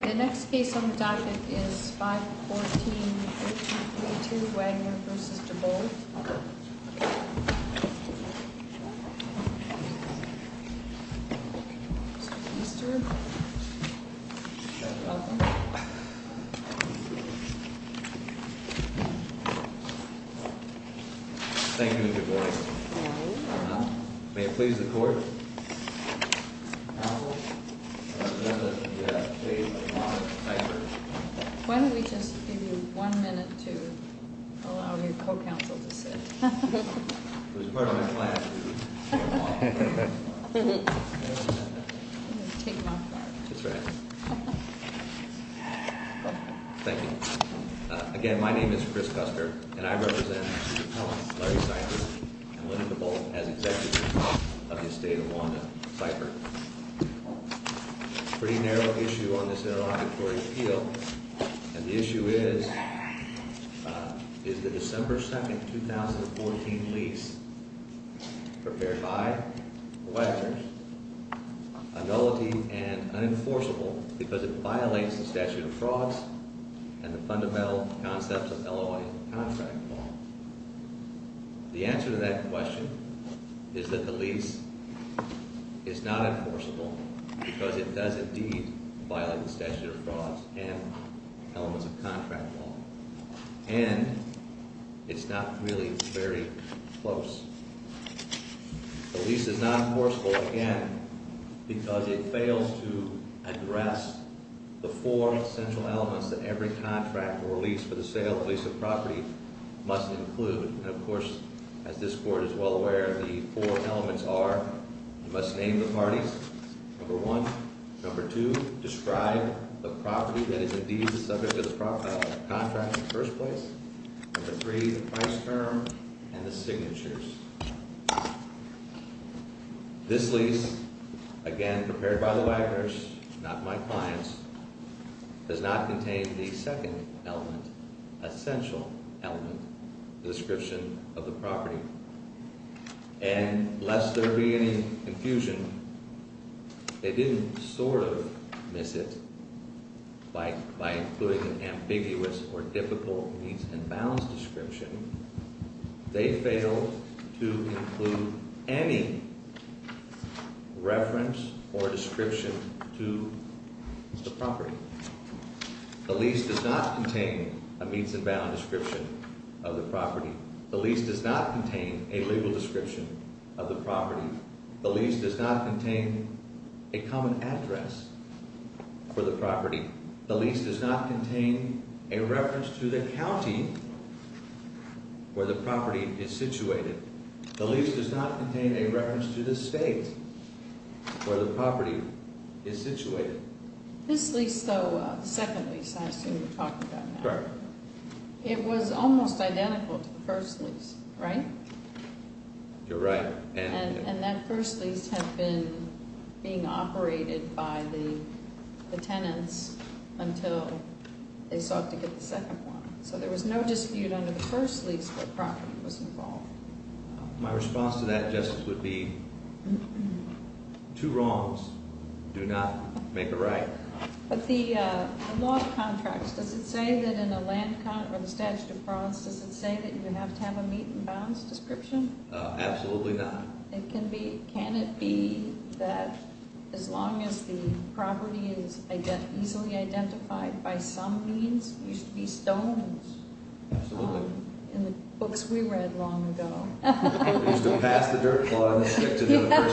The next case on the docket is 514-1832, Waggoner v. DeBolt. Thank you, DeBolt. Why don't we just give you one minute to allow your co-counsel to sit. Thank you. Again, my name is Chris Custer, and I represent Larry Seifert and Linda DeBolt as executives of the estate of Wanda Seifert. Pretty narrow issue on this interlocutory appeal, and the issue is, is the December 2nd, 2014 lease prepared by the Waggoners, a nullity and unenforceable because it violates the statute of frauds and the fundamental concepts of LOI contract law. The answer to that question is that the lease is not enforceable because it does indeed violate the statute of frauds and elements of contract law, and it's not really very close. The lease is not enforceable, again, because it fails to address the four essential elements that every contract or lease for the sale of a lease of property must include. And, of course, as this Court is well aware, the four elements are you must name the parties, number one. Number two, describe the property that is indeed the subject of the contract in the first place. Number three, the price term and the signatures. This lease, again, prepared by the Waggoners, not my clients, does not contain the second element, essential element, the description of the property. And lest there be any confusion, they didn't sort of miss it by including an ambiguous or difficult means and bounds description. They failed to include any reference or description to the property. The lease does not contain a means and bounds description of the property. The lease does not contain a legal description of the property. The lease does not contain a common address for the property. The lease does not contain a reference to the county where the property is situated. The lease does not contain a reference to the state where the property is situated. This lease though, the second lease I assume you're talking about now. Correct. It was almost identical to the first lease, right? You're right. And that first lease had been being operated by the tenants until they sought to get the second one. So there was no dispute under the first lease where property was involved. My response to that, Justice, would be two wrongs do not make a right. But the law of contracts, does it say that in a land contract or the statute of frauds, does it say that you have to have a meet and balance description? Absolutely not. Can it be that as long as the property is easily identified by some means, you should be stoned? Absolutely. In the books we read long ago. We used to pass the dirt plug stick to the person who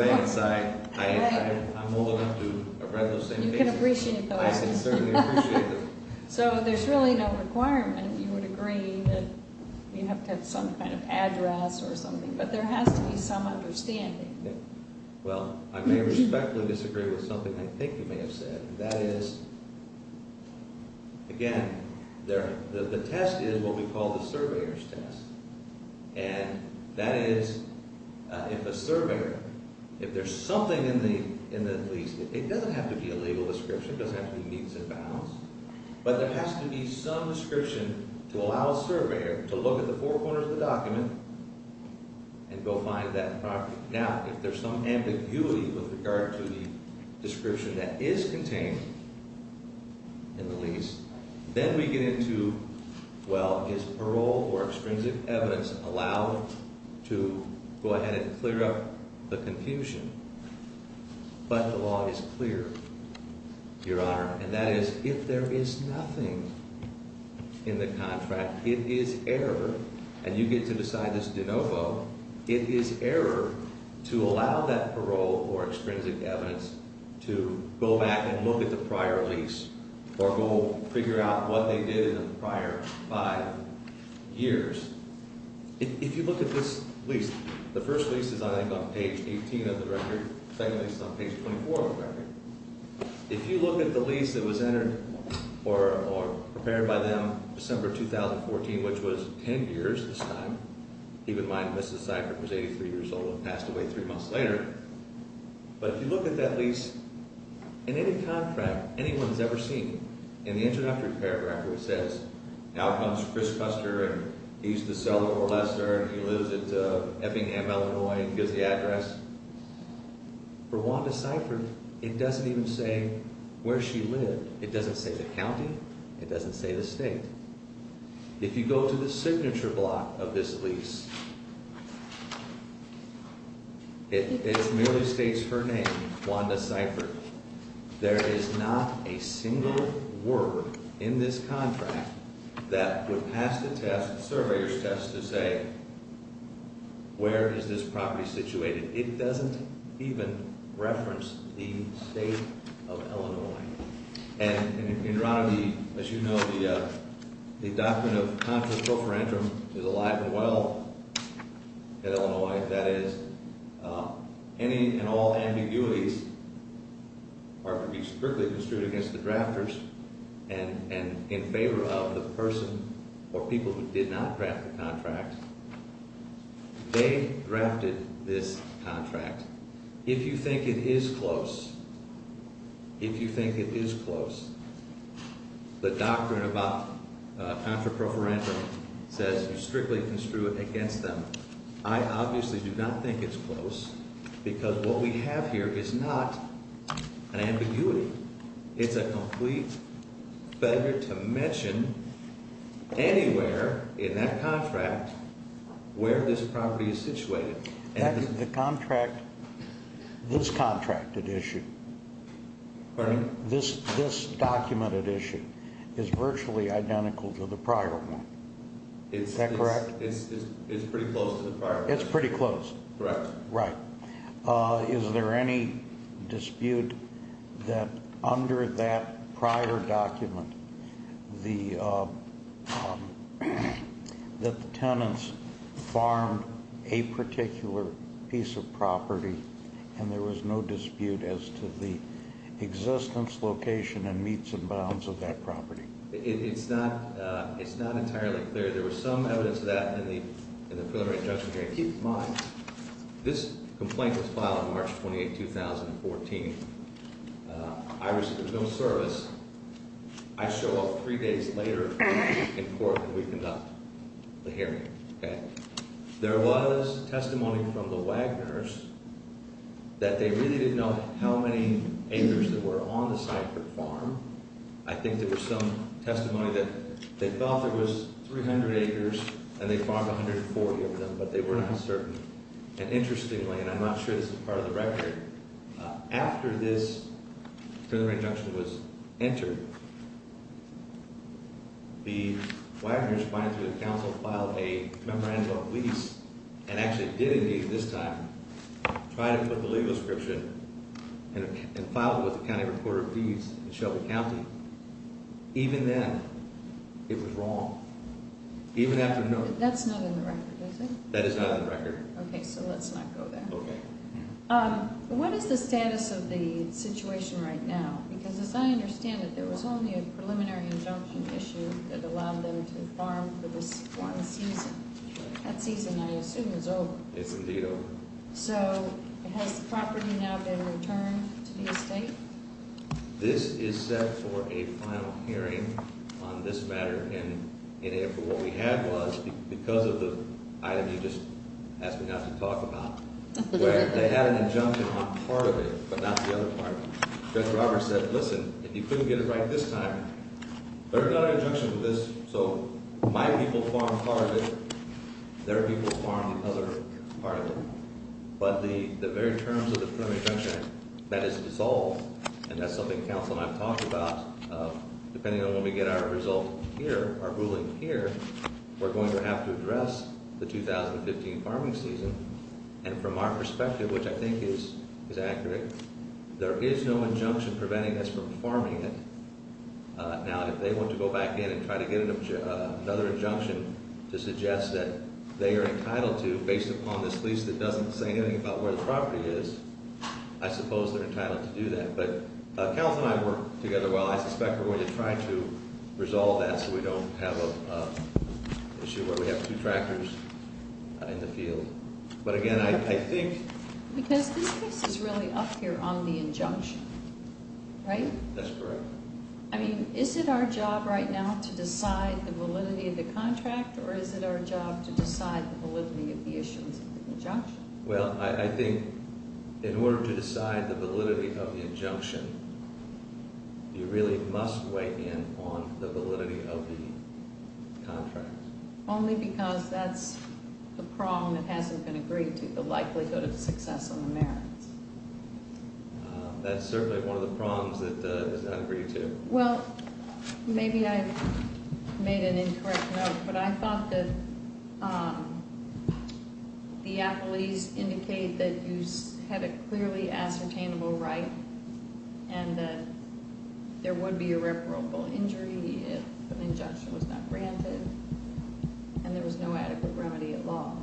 has the defense. I'm old enough to have read those same papers. You can appreciate those. I can certainly appreciate them. So there's really no requirement. You would agree that you have to have some kind of address or something. But there has to be some understanding. Well, I may respectfully disagree with something I think you may have said. That is, again, the test is what we call the surveyor's test. And that is if a surveyor, if there's something in the lease, it doesn't have to be a legal description. It doesn't have to be meets and balance. But there has to be some description to allow a surveyor to look at the four corners of the document and go find that property. Now, if there's some ambiguity with regard to the description that is contained in the lease, then we get into, well, is parole or extrinsic evidence allowed to go ahead and clear up the confusion? But the law is clear, Your Honor. And that is if there is nothing in the contract, it is error, and you get to decide this de novo, it is error to allow that parole or extrinsic evidence to go back and look at the prior lease or go figure out what they did in the prior five years. If you look at this lease, the first lease is, I think, on page 18 of the record. If you look at the lease that was entered or prepared by them December 2014, which was 10 years this time, keep in mind Mrs. Seifert was 83 years old and passed away three months later. But if you look at that lease, in any contract anyone has ever seen, in the introductory paragraph it says, now comes Chris Custer, and he used to sell to Orlesser, and he lives at Effingham, Illinois, and gives the address. For Wanda Seifert, it doesn't even say where she lived. It doesn't say the county. It doesn't say the state. If you go to the signature block of this lease, it merely states her name, Wanda Seifert. There is not a single word in this contract that would pass the test, the surveyor's test, to say, where is this property situated? It doesn't even reference the state of Illinois. And in Ron, as you know, the doctrine of contra cofrantum is alive and well in Illinois. That is, any and all ambiguities are to be strictly construed against the drafters, and in favor of the person or people who did not draft the contract, they drafted this contract. If you think it is close, if you think it is close, the doctrine about contra cofrantum says you strictly construe it against them. I obviously do not think it's close, because what we have here is not an ambiguity. It's a complete failure to mention anywhere in that contract where this property is situated. The contract, this contracted issue, this documented issue, is virtually identical to the prior one. Is that correct? It's pretty close to the prior one. It's pretty close. Correct. Right. Is there any dispute that under that prior document that the tenants farmed a particular piece of property and there was no dispute as to the existence, location, and meets and bounds of that property? It's not entirely clear. There was some evidence of that in the preliminary judgment. Keep in mind, this complaint was filed on March 28, 2014. There was no service. I show up three days later in court and we conduct the hearing. There was testimony from the Wagners that they really didn't know how many acres there were on the site for farm. I think there was some testimony that they felt there was 300 acres and they farmed 140 of them, but they were not certain. And interestingly, and I'm not sure this is part of the record, after this preliminary injunction was entered, the Wagners went to the council, filed a memorandum of lease, and actually did engage this time, tried to put the legal description and filed it with the county recorder of deeds in Shelby County. Even then, it was wrong. Even after the notice. That's not in the record, is it? That is not in the record. Okay, so let's not go there. Okay. What is the status of the situation right now? Because as I understand it, there was only a preliminary injunction issue that allowed them to farm for this one season. That season, I assume, is over. It's indeed over. So has the property now been returned to the estate? This is set for a final hearing on this matter, and what we had was, because of the item you just asked me not to talk about, where they had an injunction on part of it, but not the other part. Judge Roberts said, listen, if you couldn't get it right this time, there's not an injunction for this, so my people farm part of it, their people farm the other part of it, but the very terms of the preliminary injunction, that is dissolved, and that's something Council and I have talked about. Depending on when we get our result here, our ruling here, we're going to have to address the 2015 farming season, and from our perspective, which I think is accurate, there is no injunction preventing us from farming it. Now, if they want to go back in and try to get another injunction to suggest that they are entitled to, based upon this lease that doesn't say anything about where the property is, I suppose they're entitled to do that. But Council and I work together well. I suspect we're going to try to resolve that so we don't have an issue where we have two tractors out in the field. But again, I think- Because this case is really up here on the injunction, right? That's correct. I mean, is it our job right now to decide the validity of the contract, or is it our job to decide the validity of the issues of the injunction? Well, I think in order to decide the validity of the injunction, you really must weigh in on the validity of the contract. Only because that's the prong that hasn't been agreed to, the likelihood of success on the merits. That's certainly one of the prongs that is not agreed to. Well, maybe I've made an incorrect note, but I thought that the appellees indicate that you had a clearly ascertainable right and that there would be irreparable injury if an injunction was not granted and there was no adequate remedy at law.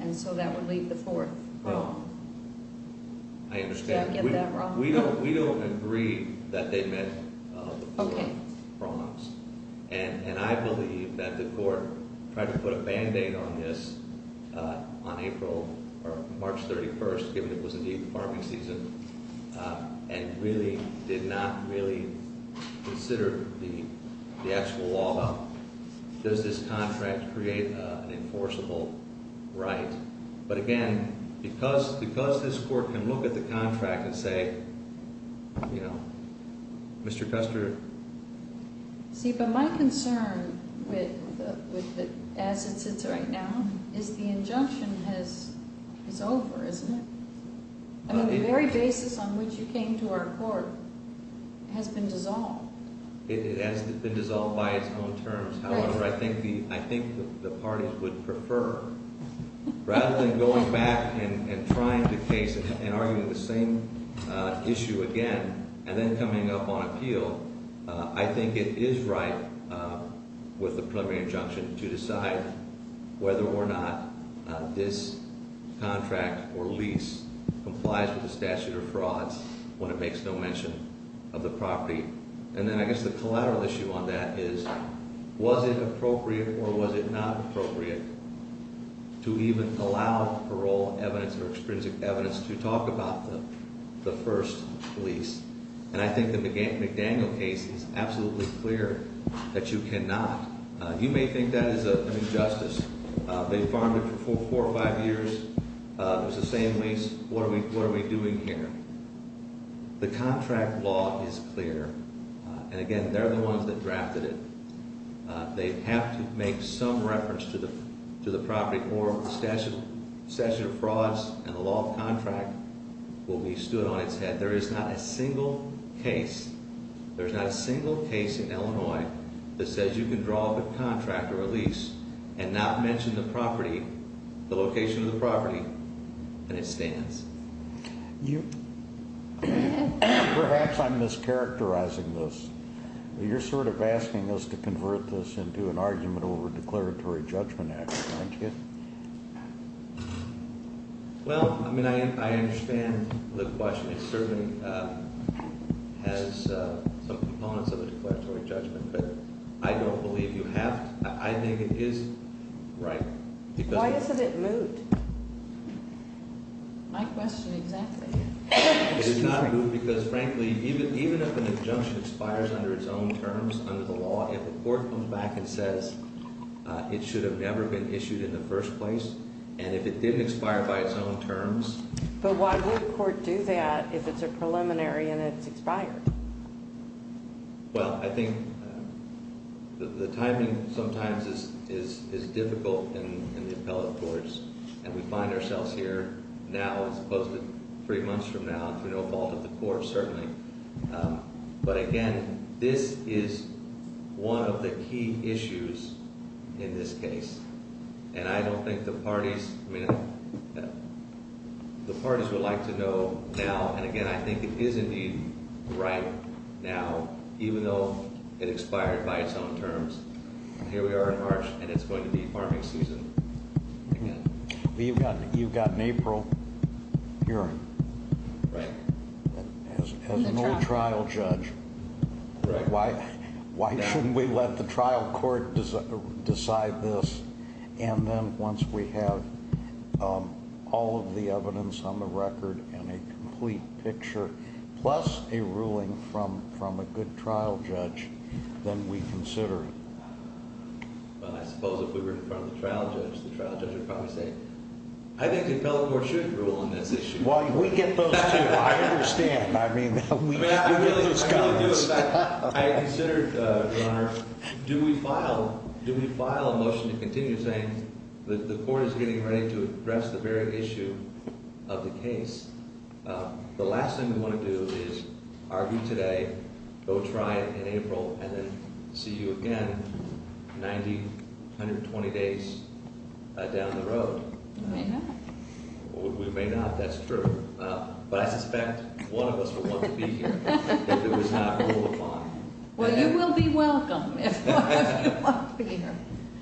And so that would leave the fourth prong. I understand. Did I get that wrong? We don't agree that they met the fourth prongs. Okay. And I believe that the court tried to put a band-aid on this on March 31st, given it was indeed the farming season, and really did not really consider the actual law about does this contract create an enforceable right. But again, because this court can look at the contract and say, you know, Mr. Custer. See, but my concern as it sits right now is the injunction is over, isn't it? I mean, the very basis on which you came to our court has been dissolved. It has been dissolved by its own terms. However, I think the parties would prefer, rather than going back and trying the case and arguing the same issue again and then coming up on appeal, I think it is right with the preliminary injunction to decide whether or not this contract or lease complies with the statute of frauds when it makes no mention of the property. And then I guess the collateral issue on that is, was it appropriate or was it not appropriate to even allow parole evidence or extrinsic evidence to talk about the first lease? And I think the McDaniel case is absolutely clear that you cannot. You may think that is an injustice. They farmed it for four or five years. It was the same lease. What are we doing here? The contract law is clear. And again, they are the ones that drafted it. They have to make some reference to the property court. The statute of frauds and the law of contract will be stood on its head. There is not a single case, there is not a single case in Illinois that says you can draw up a contract or a lease and not mention the property, the location of the property, and it stands. Perhaps I'm mischaracterizing this. You're sort of asking us to convert this into an argument over declaratory judgment action, aren't you? Well, I mean, I understand the question. It certainly has some components of a declaratory judgment, but I don't believe you have to. I think it is right. Why isn't it moved? My question exactly. It is not moved because, frankly, even if an injunction expires under its own terms, under the law, if the court comes back and says it should have never been issued in the first place, and if it didn't expire by its own terms. But why would the court do that if it's a preliminary and it's expired? Well, I think the timing sometimes is difficult in the appellate courts, and we find ourselves here now as opposed to three months from now through no fault of the court, certainly. But, again, this is one of the key issues in this case, and I don't think the parties would like to know now. And, again, I think it is in need right now, even though it expired by its own terms. And here we are in March, and it's going to be farming season again. You've got an April hearing. Right. As an old trial judge, why shouldn't we let the trial court decide this? And then once we have all of the evidence on the record and a complete picture, plus a ruling from a good trial judge, then we consider it. Well, I suppose if we were in front of the trial judge, the trial judge would probably say, I think the appellate court should rule on this issue. Well, we get those, too. I understand. I mean, we get those comments. I do. In fact, I considered, Your Honor, do we file a motion to continue saying that the court is getting ready to address the very issue of the case? The last thing we want to do is argue today, go try it in April, and then see you again 90, 120 days down the road. We may not. We may not. That's true. But I suspect one of us will want to be here if it was not ruled upon. Well, you will be welcome if one of you will be here.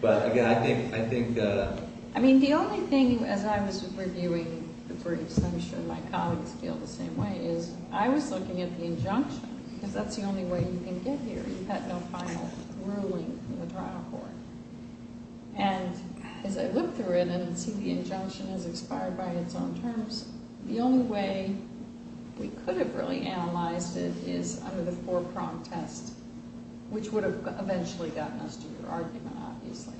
But, again, I think the – I mean, the only thing, as I was reviewing the briefs, and I'm sure my colleagues feel the same way, is I was looking at the injunction because that's the only way you can get here. You've got no final ruling from the trial court. And as I look through it and see the injunction has expired by its own terms, the only way we could have really analyzed it is under the four-prong test, which would have eventually gotten us to your argument, obviously.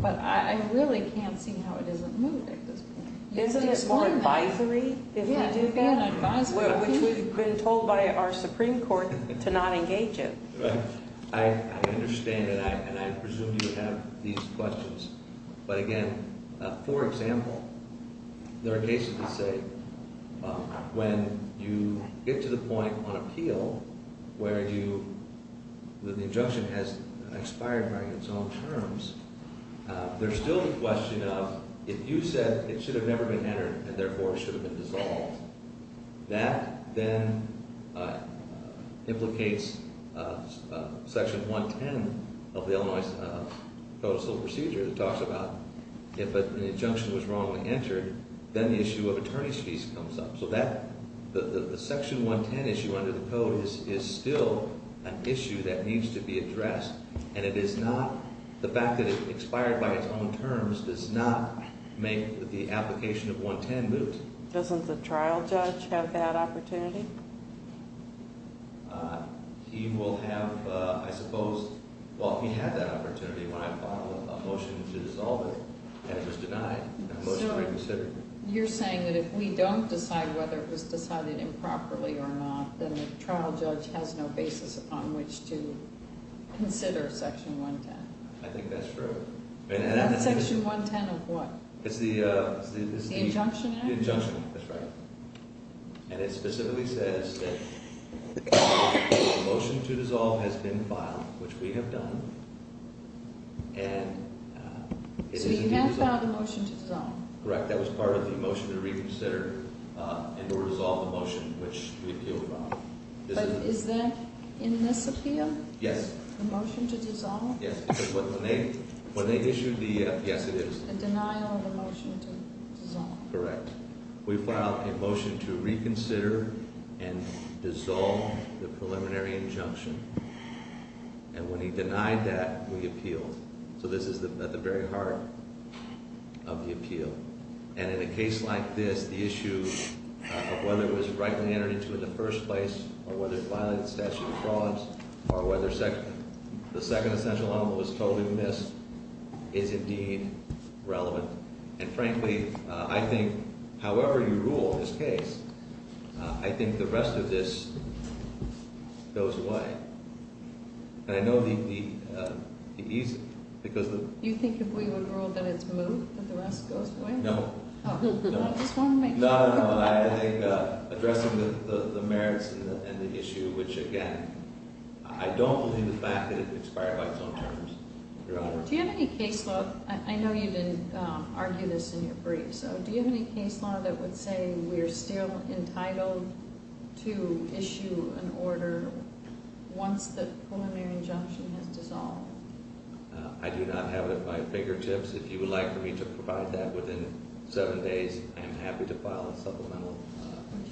But I really can't see how it isn't moved at this point. Isn't it more advisory if we do that? Yeah, we have an advisory group. Which we've been told by our Supreme Court to not engage in. Right. I understand that, and I presume you have these questions. But, again, for example, there are cases that say when you get to the point on appeal where you – that the injunction has expired by its own terms, there's still the question of if you said it should have never been entered and, therefore, should have been dissolved, that then implicates Section 110 of the Illinois Code of Civil Procedure that talks about if an injunction was wrongly entered, then the issue of attorney's fees comes up. So that – the Section 110 issue under the code is still an issue that needs to be addressed, and it is not – the fact that it expired by its own terms does not make the application of 110 moot. Doesn't the trial judge have that opportunity? He will have, I suppose – well, he had that opportunity when I filed a motion to dissolve it, and it was denied. So you're saying that if we don't decide whether it was decided improperly or not, then the trial judge has no basis upon which to consider Section 110? I think that's true. And that's Section 110 of what? It's the – The injunction? The injunction, that's right. And it specifically says that the motion to dissolve has been filed, which we have done, and – So you have filed a motion to dissolve? Correct. That was part of the motion to reconsider and or dissolve the motion, which we appealed wrongly. But is that in this appeal? Yes. The motion to dissolve? Yes, because when they issued the – yes, it is. It's a denial of a motion to dissolve. Correct. We filed a motion to reconsider and dissolve the preliminary injunction, and when he denied that, we appealed. So this is at the very heart of the appeal. And in a case like this, the issue of whether it was rightly entered into in the first place or whether it violated the statute of frauds or whether the second essential element was totally missed is indeed relevant. And frankly, I think however you rule this case, I think the rest of this goes away. And I know the – because the – No. I just want to make sure. No, no, no. I think addressing the merits and the issue, which again, I don't believe the fact that it expired by its own terms. Do you have any case law – I know you didn't argue this in your brief, so do you have any case law that would say we are still entitled to issue an order once the preliminary injunction has dissolved? I do not have it at my fingertips. If you would like for me to provide that within seven days, I am happy to file a supplemental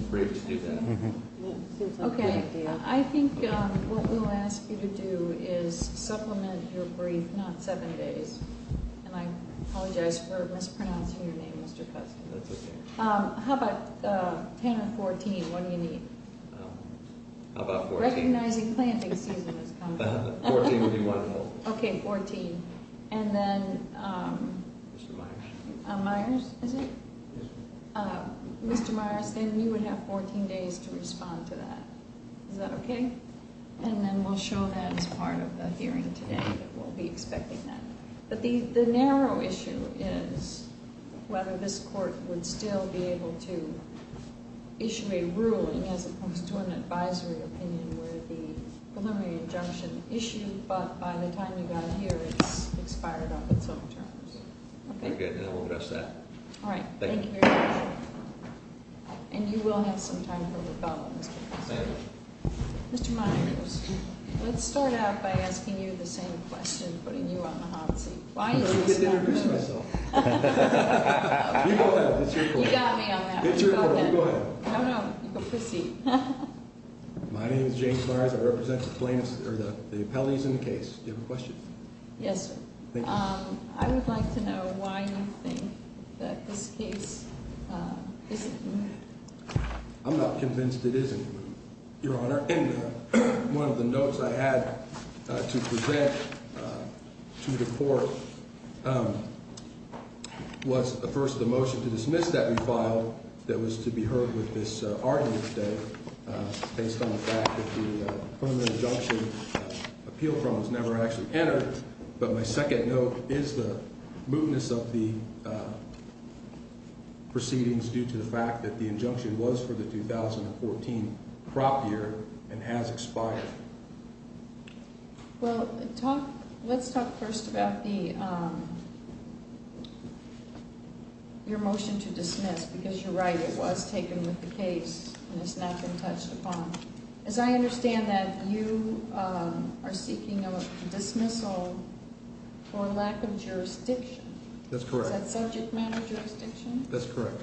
brief to do that. Okay. I think what we'll ask you to do is supplement your brief, not seven days. And I apologize for mispronouncing your name, Mr. Custon. That's okay. How about 10 or 14? How about 14? Recognizing planting season has come. 14 would be wonderful. Okay, 14. And then – Mr. Myers. Myers, is it? Yes. Mr. Myers, then you would have 14 days to respond to that. Is that okay? And then we'll show that as part of the hearing today, that we'll be expecting that. But the narrow issue is whether this court would still be able to issue a ruling as opposed to an advisory opinion where the preliminary injunction issued, but by the time you got here, it's expired off its own terms. Okay, then we'll address that. All right. Thank you very much. And you will have some time for rebuttal, Mr. Custon. Thank you. Mr. Myers, let's start out by asking you the same question, putting you on the hot seat. I'm going to get to introduce myself. You go ahead. It's your court. You got me on that one. It's your court. You go ahead. No, no. Proceed. My name is James Myers. I represent the plaintiffs – or the appellees in the case. Do you have a question? Yes, sir. Thank you. I would like to know why you think that this case isn't moved. I'm not convinced it isn't moved, Your Honor. And one of the notes I had to present to the court was, first, the motion to dismiss that refile that was to be heard with this argument today based on the fact that the preliminary injunction appeal promise never actually entered. But my second note is the moveness of the proceedings due to the fact that the injunction was for the 2014 prop year and has expired. Well, let's talk first about your motion to dismiss because you're right. It was taken with the case and has not been touched upon. As I understand that you are seeking a dismissal for lack of jurisdiction. That's correct. Is that subject matter jurisdiction? That's correct.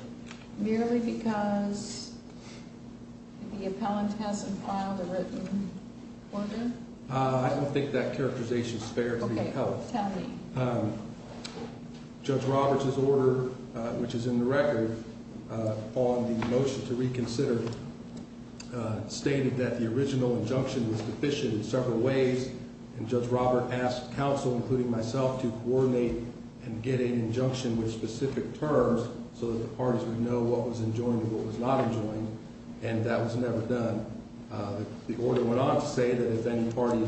Merely because the appellant hasn't filed a written order? I don't think that characterization is fair to the appellant. Okay. Tell me. Judge Roberts' order, which is in the record on the motion to reconsider, stated that the original injunction was deficient in several ways. And Judge Roberts asked counsel, including myself, to coordinate and get an injunction with specific terms so that the parties would know what was enjoined and what was not enjoined. And that was never done. The order went on to say that if any party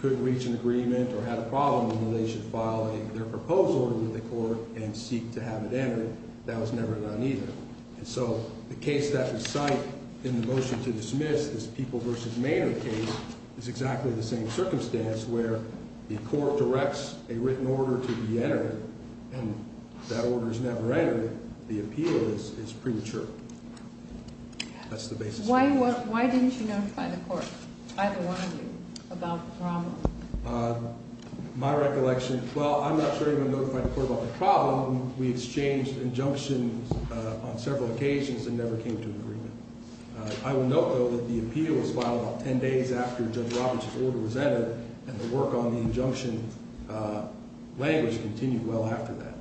could reach an agreement or had a problem, then they should file their proposal with the court and seek to have it entered. That was never done either. And so the case that was cited in the motion to dismiss, this People v. Maynard case, is exactly the same circumstance where the court directs a written order to be entered. And that order is never entered. The appeal is premature. That's the basis of the motion. Why didn't you notify the court, either one of you, about the problem? My recollection, well, I'm not sure I even notified the court about the problem. We exchanged injunctions on several occasions and never came to an agreement. I will note, though, that the appeal was filed about ten days after Judge Roberts' order was entered, and the work on the injunction language continued well after that.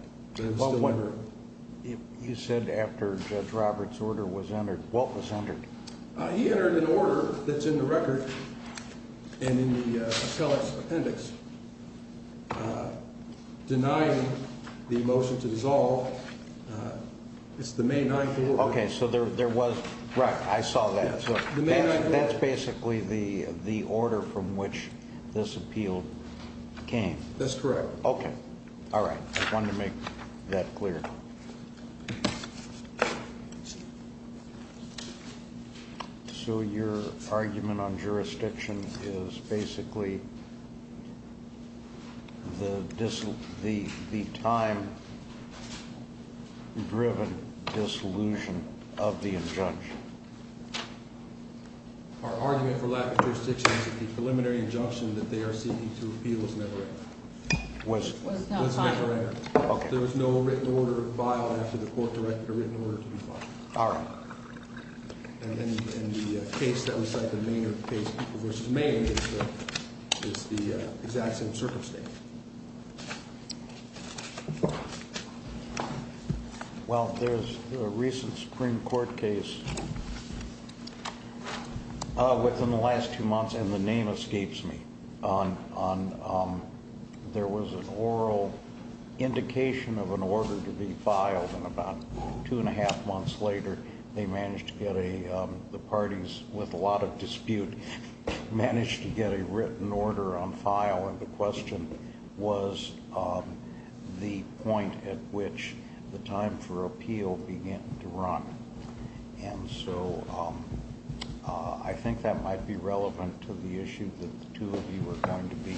You said after Judge Roberts' order was entered. What was entered? He entered an order that's in the record and in the appellate's appendix denying the motion to dissolve. It's the May 9th order. Okay, so there was – right, I saw that. That's basically the order from which this appeal came. That's correct. Okay, all right. I wanted to make that clear. So your argument on jurisdiction is basically the time-driven disillusion of the injunction. Our argument for lack of jurisdiction is that the preliminary injunction that they are seeking to appeal is never entered. It was never entered. Okay. There was no written order filed after the court directed a written order to be filed. All right. And the case that we cite, the Maynard case versus Maynard, is the exact same circumstance. Well, there's a recent Supreme Court case within the last two months, and the name escapes me. There was an oral indication of an order to be filed, and about two and a half months later, they managed to get a – the parties with a lot of dispute managed to get a written order on file, and the question was the point at which the time for appeal began to run. And so I think that might be relevant to the issue that the two of you are going to be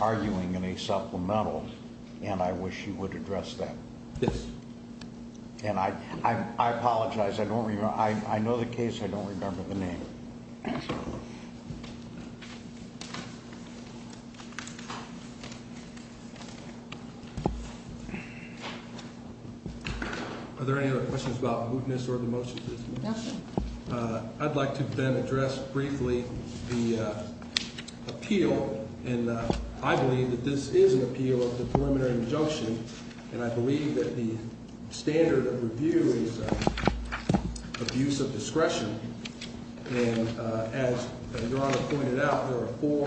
arguing in a supplemental, and I wish you would address that. Yes. And I apologize. I don't remember – I know the case. I don't remember the name. Thank you. Are there any other questions about mootness or the motion? Nothing. I'd like to then address briefly the appeal, and I believe that this is an appeal of the preliminary injunction, and I believe that the standard of review is abuse of discretion. And as Your Honor pointed out, there are four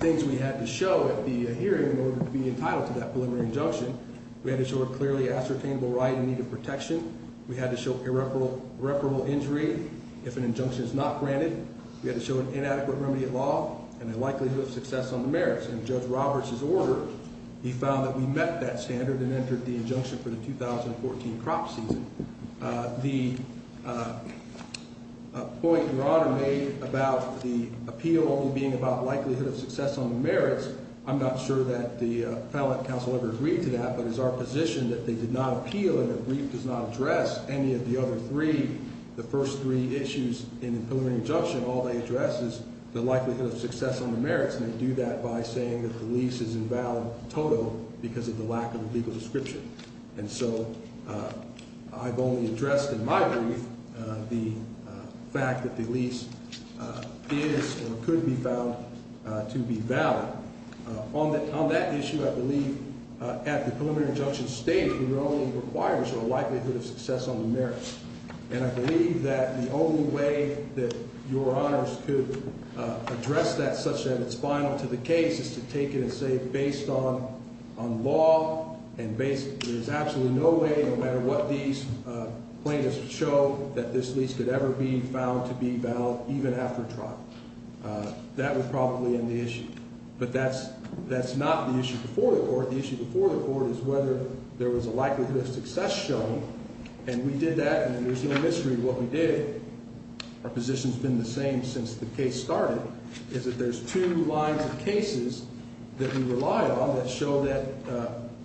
things we had to show at the hearing in order to be entitled to that preliminary injunction. We had to show a clearly ascertainable right in need of protection. We had to show irreparable injury if an injunction is not granted. We had to show an inadequate remedy of law and a likelihood of success on the merits. In Judge Roberts' order, he found that we met that standard and entered the injunction for the 2014 crop season. The point Your Honor made about the appeal only being about likelihood of success on the merits, I'm not sure that the appellate counsel ever agreed to that, but it is our position that they did not appeal and the brief does not address any of the other three, the first three issues in the preliminary injunction. All they address is the likelihood of success on the merits, and they do that by saying that the lease is invalid total because of the lack of a legal description. And so I've only addressed in my brief the fact that the lease is or could be found to be valid. On that issue, I believe at the preliminary injunction state, it only requires a likelihood of success on the merits, and I believe that the only way that Your Honors could address that such that it's final to the case is to take it on law and there's absolutely no way, no matter what these plaintiffs show, that this lease could ever be found to be valid even after trial. That would probably end the issue. But that's not the issue before the court. The issue before the court is whether there was a likelihood of success showing, and we did that and there's no mystery to what we did. Our position's been the same since the case started, is that there's two lines of cases that we rely on that show that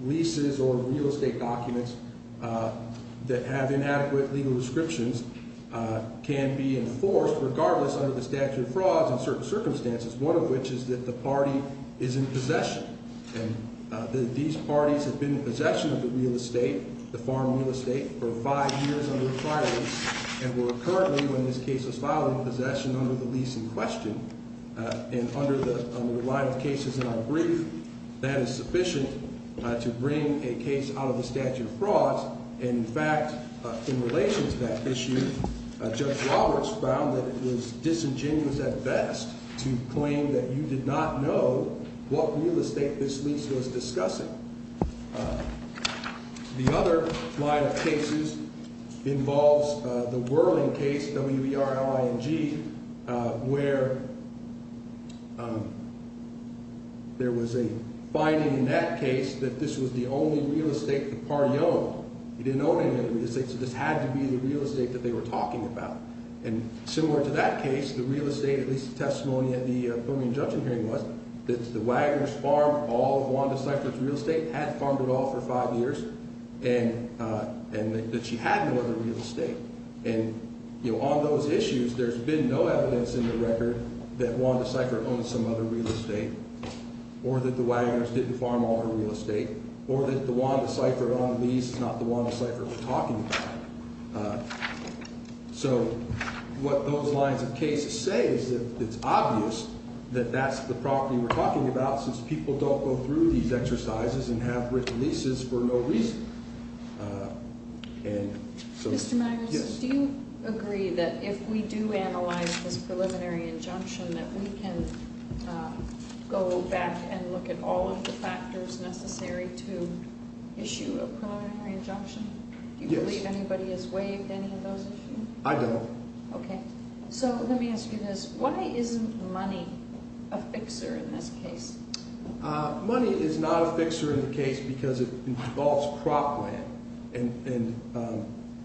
leases or real estate documents that have inadequate legal descriptions can be enforced regardless under the statute of frauds in certain circumstances, one of which is that the party is in possession. And these parties have been in possession of the real estate, the farm real estate, for five years under a prior lease and were currently, when this case was filed, in possession under the lease in question. And under the line of cases in our brief, that is sufficient to bring a case out of the statute of frauds. In fact, in relation to that issue, Judge Roberts found that it was disingenuous at best to claim that you did not know what real estate this lease was discussing. The other line of cases involves the Whirling case, W-E-R-L-I-N-G, where there was a finding in that case that this was the only real estate the party owned. They didn't own any of the real estate, so this had to be the real estate that they were talking about. And similar to that case, the real estate, at least the testimony at the preliminary injunction hearing was, that the Wagoners farmed all of Wanda Seifert's real estate, had farmed it all for five years, and that she had no other real estate. And on those issues, there's been no evidence in the record that Wanda Seifert owned some other real estate or that the Wagoners didn't farm all her real estate or that the Wanda Seifert on the lease is not the Wanda Seifert we're talking about. So what those lines of cases say is that it's obvious that that's the property we're talking about since people don't go through these exercises and have written leases for no reason. Mr. Magnus, do you agree that if we do analyze this preliminary injunction, that we can go back and look at all of the factors necessary to issue a preliminary injunction? Yes. Do you believe anybody has waived any of those issues? I don't. Okay. So let me ask you this. Why isn't money a fixer in this case? Money is not a fixer in the case because it involves crop land. And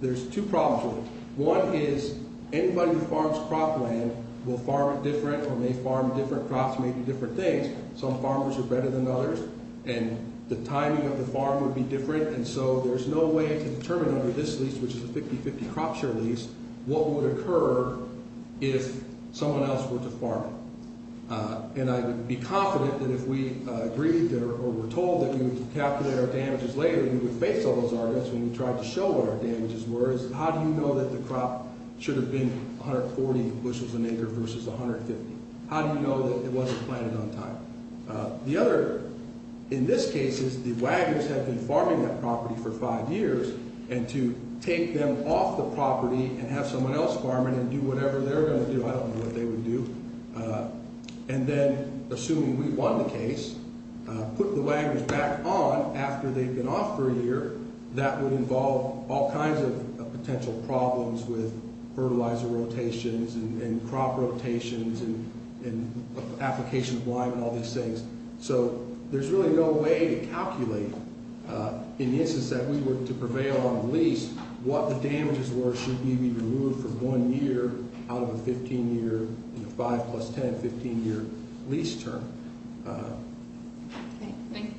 there's two problems with it. One is anybody who farms crop land will farm it different or may farm different crops, may do different things. Some farmers are better than others. And the timing of the farm would be different. And so there's no way to determine under this lease, which is a 50-50 crop share lease, what would occur if someone else were to farm it. And I would be confident that if we agreed or were told that we would calculate our damages later, we would face all those arguments when we tried to show what our damages were. How do you know that the crop should have been 140 bushels a acre versus 150? How do you know that it wasn't planted on time? The other, in this case, is the wagons have been farming that property for five years. And to take them off the property and have someone else farm it and do whatever they're going to do, I don't know what they would do. And then, assuming we won the case, put the wagons back on after they've been off for a year, that would involve all kinds of potential problems with fertilizer rotations and crop rotations and application of lime and all these things. So there's really no way to calculate, in the instance that we were to prevail on the lease, what the damages were should we be removed from one year out of a 15-year, 5 plus 10, 15-year lease term. Thank you.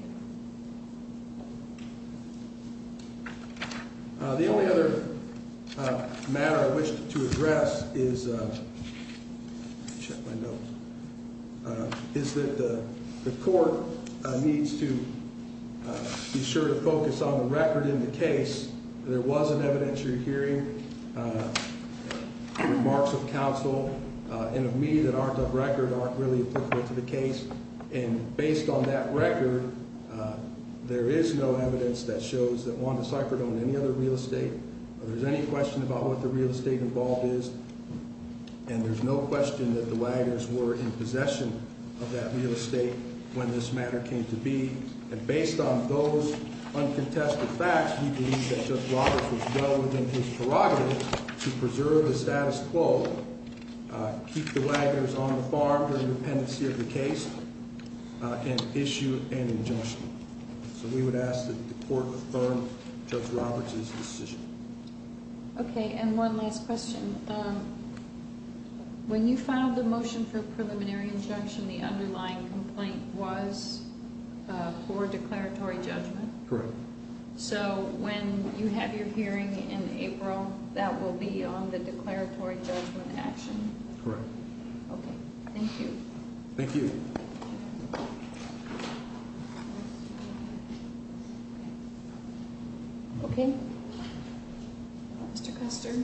The only other matter I wish to address is that the court needs to be sure to focus on the record in the case. There was an evidentiary hearing, the remarks of counsel, and of me that aren't of record, aren't really applicable to the case. And based on that record, there is no evidence that shows that Wanda Seifert owned any other real estate. There's any question about what the real estate involved is. And there's no question that the wagons were in possession of that real estate when this matter came to be. And based on those uncontested facts, we believe that Judge Roberts was well within his prerogative to preserve the status quo, keep the wagons on the farm during the pendency of the case, and issue an injunction. So we would ask that the court affirm Judge Roberts' decision. Okay, and one last question. When you filed the motion for preliminary injunction, the underlying complaint was for declaratory judgment? Correct. So when you have your hearing in April, that will be on the declaratory judgment action? Correct. Okay, thank you. Thank you. Okay. Mr. Custard.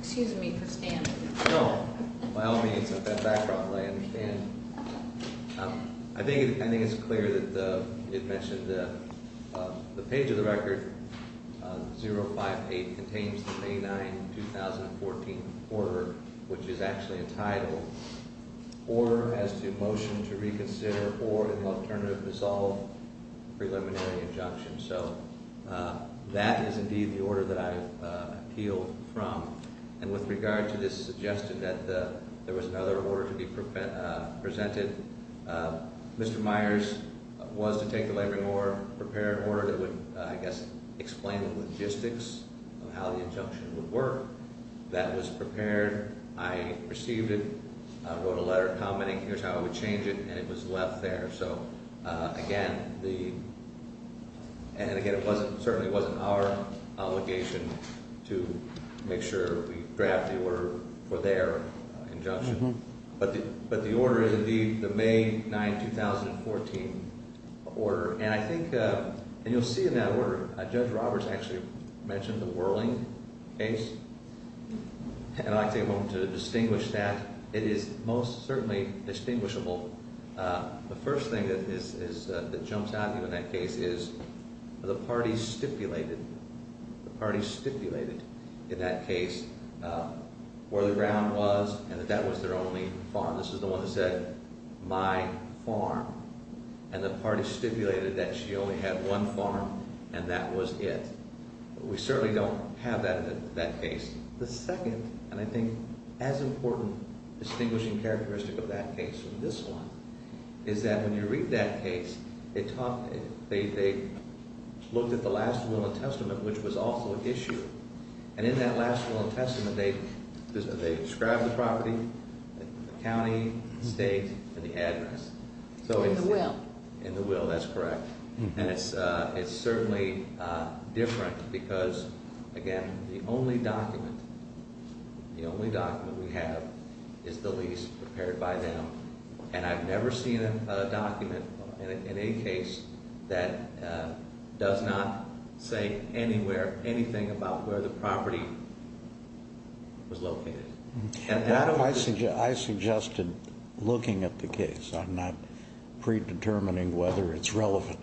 Excuse me for standing. No, by all means, at that background, I understand. I think it's clear that it mentioned the page of the record, 058, contains the May 9, 2014 order, which is actually entitled Order as to Motion to Reconsider or an Alternative Dissolve Preliminary Injunction. So that is indeed the order that I appealed from. And with regard to this, it suggested that there was another order to be presented. Mr. Myers was to take the laboring order, prepare an order that would, I guess, explain the logistics of how the injunction would work. That was prepared. I received it, wrote a letter commenting here's how we would change it, and it was left there. So again, and again, it certainly wasn't our obligation to make sure we draft the order for their injunction. But the order is indeed the May 9, 2014 order. And I think, and you'll see in that order, Judge Roberts actually mentioned the whirling case, and I'd like to take a moment to distinguish that. It is most certainly distinguishable. The first thing that jumps out at you in that case is the parties stipulated, the parties stipulated in that case where the ground was and that that was their only farm. This is the one that said my farm. And the parties stipulated that she only had one farm and that was it. We certainly don't have that in that case. The second, and I think as important distinguishing characteristic of that case from this one, is that when you read that case, they talked, they looked at the last will and testament, which was also issued. And in that last will and testament, they described the property, the county, the state, and the address. In the will. In the will, that's correct. And it's certainly different because, again, the only document, the only document we have is the lease prepared by them. And I've never seen a document in any case that does not say anywhere anything about where the property was located. I suggested looking at the case. I'm not predetermining whether it's relevant,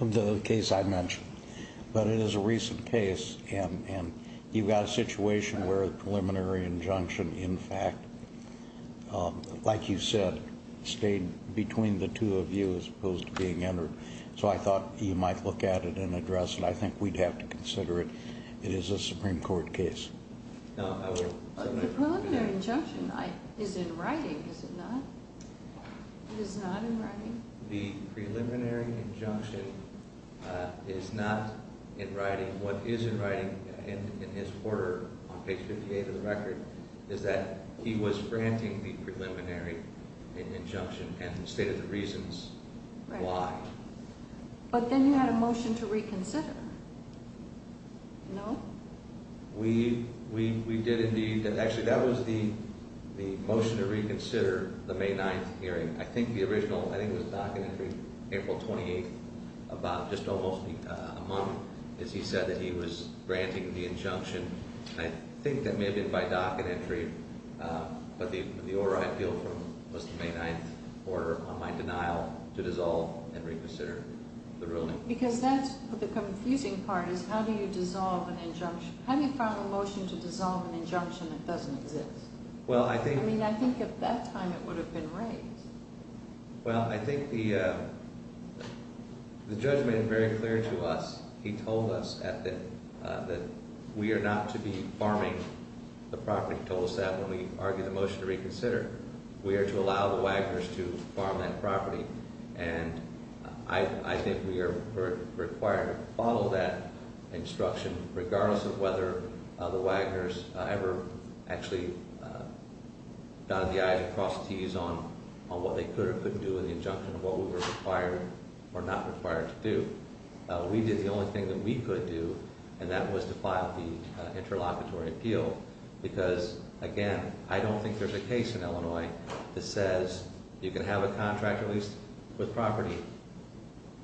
the case I mentioned. But it is a recent case, and you've got a situation where a preliminary injunction, in fact, like you said, stayed between the two of you as opposed to being entered. So I thought you might look at it and address it. I think we'd have to consider it. It is a Supreme Court case. The preliminary injunction is in writing, is it not? It is not in writing? The preliminary injunction is not in writing. What is in writing in his order on page 58 of the record is that he was granting the preliminary injunction and stated the reasons why. But then you had a motion to reconsider. No? We did indeed. Actually, that was the motion to reconsider the May 9th hearing. I think the original, I think it was docket entry April 28th, about just almost a month as he said that he was granting the injunction. I think that may have been by docket entry, but the order I appealed for was the May 9th order on my denial to dissolve and reconsider the ruling. Because that's the confusing part is how do you dissolve an injunction? How do you file a motion to dissolve an injunction that doesn't exist? I mean, I think at that time it would have been raised. Well, I think the judge made it very clear to us. He told us that we are not to be farming the property. He told us that when we argued the motion to reconsider. We are to allow the Wagners to farm that property. And I think we are required to follow that instruction regardless of whether the Wagners ever actually got the eyes across the tees on what they could or couldn't do with the injunction. What we were required or not required to do. We did the only thing that we could do and that was to file the interlocutory appeal. Because, again, I don't think there's a case in Illinois that says you can have a contract release with property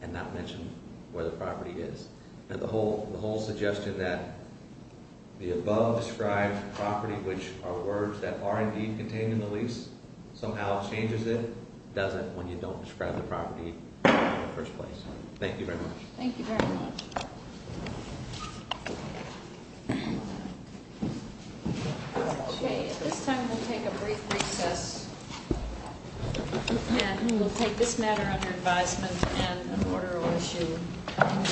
and not mention where the property is. And the whole suggestion that the above described property, which are words that are indeed contained in the lease, somehow changes it, doesn't when you don't describe the property in the first place. Thank you very much. Thank you very much. Okay, at this time we'll take a brief recess. And we'll take this matter under advisement and an order of issue.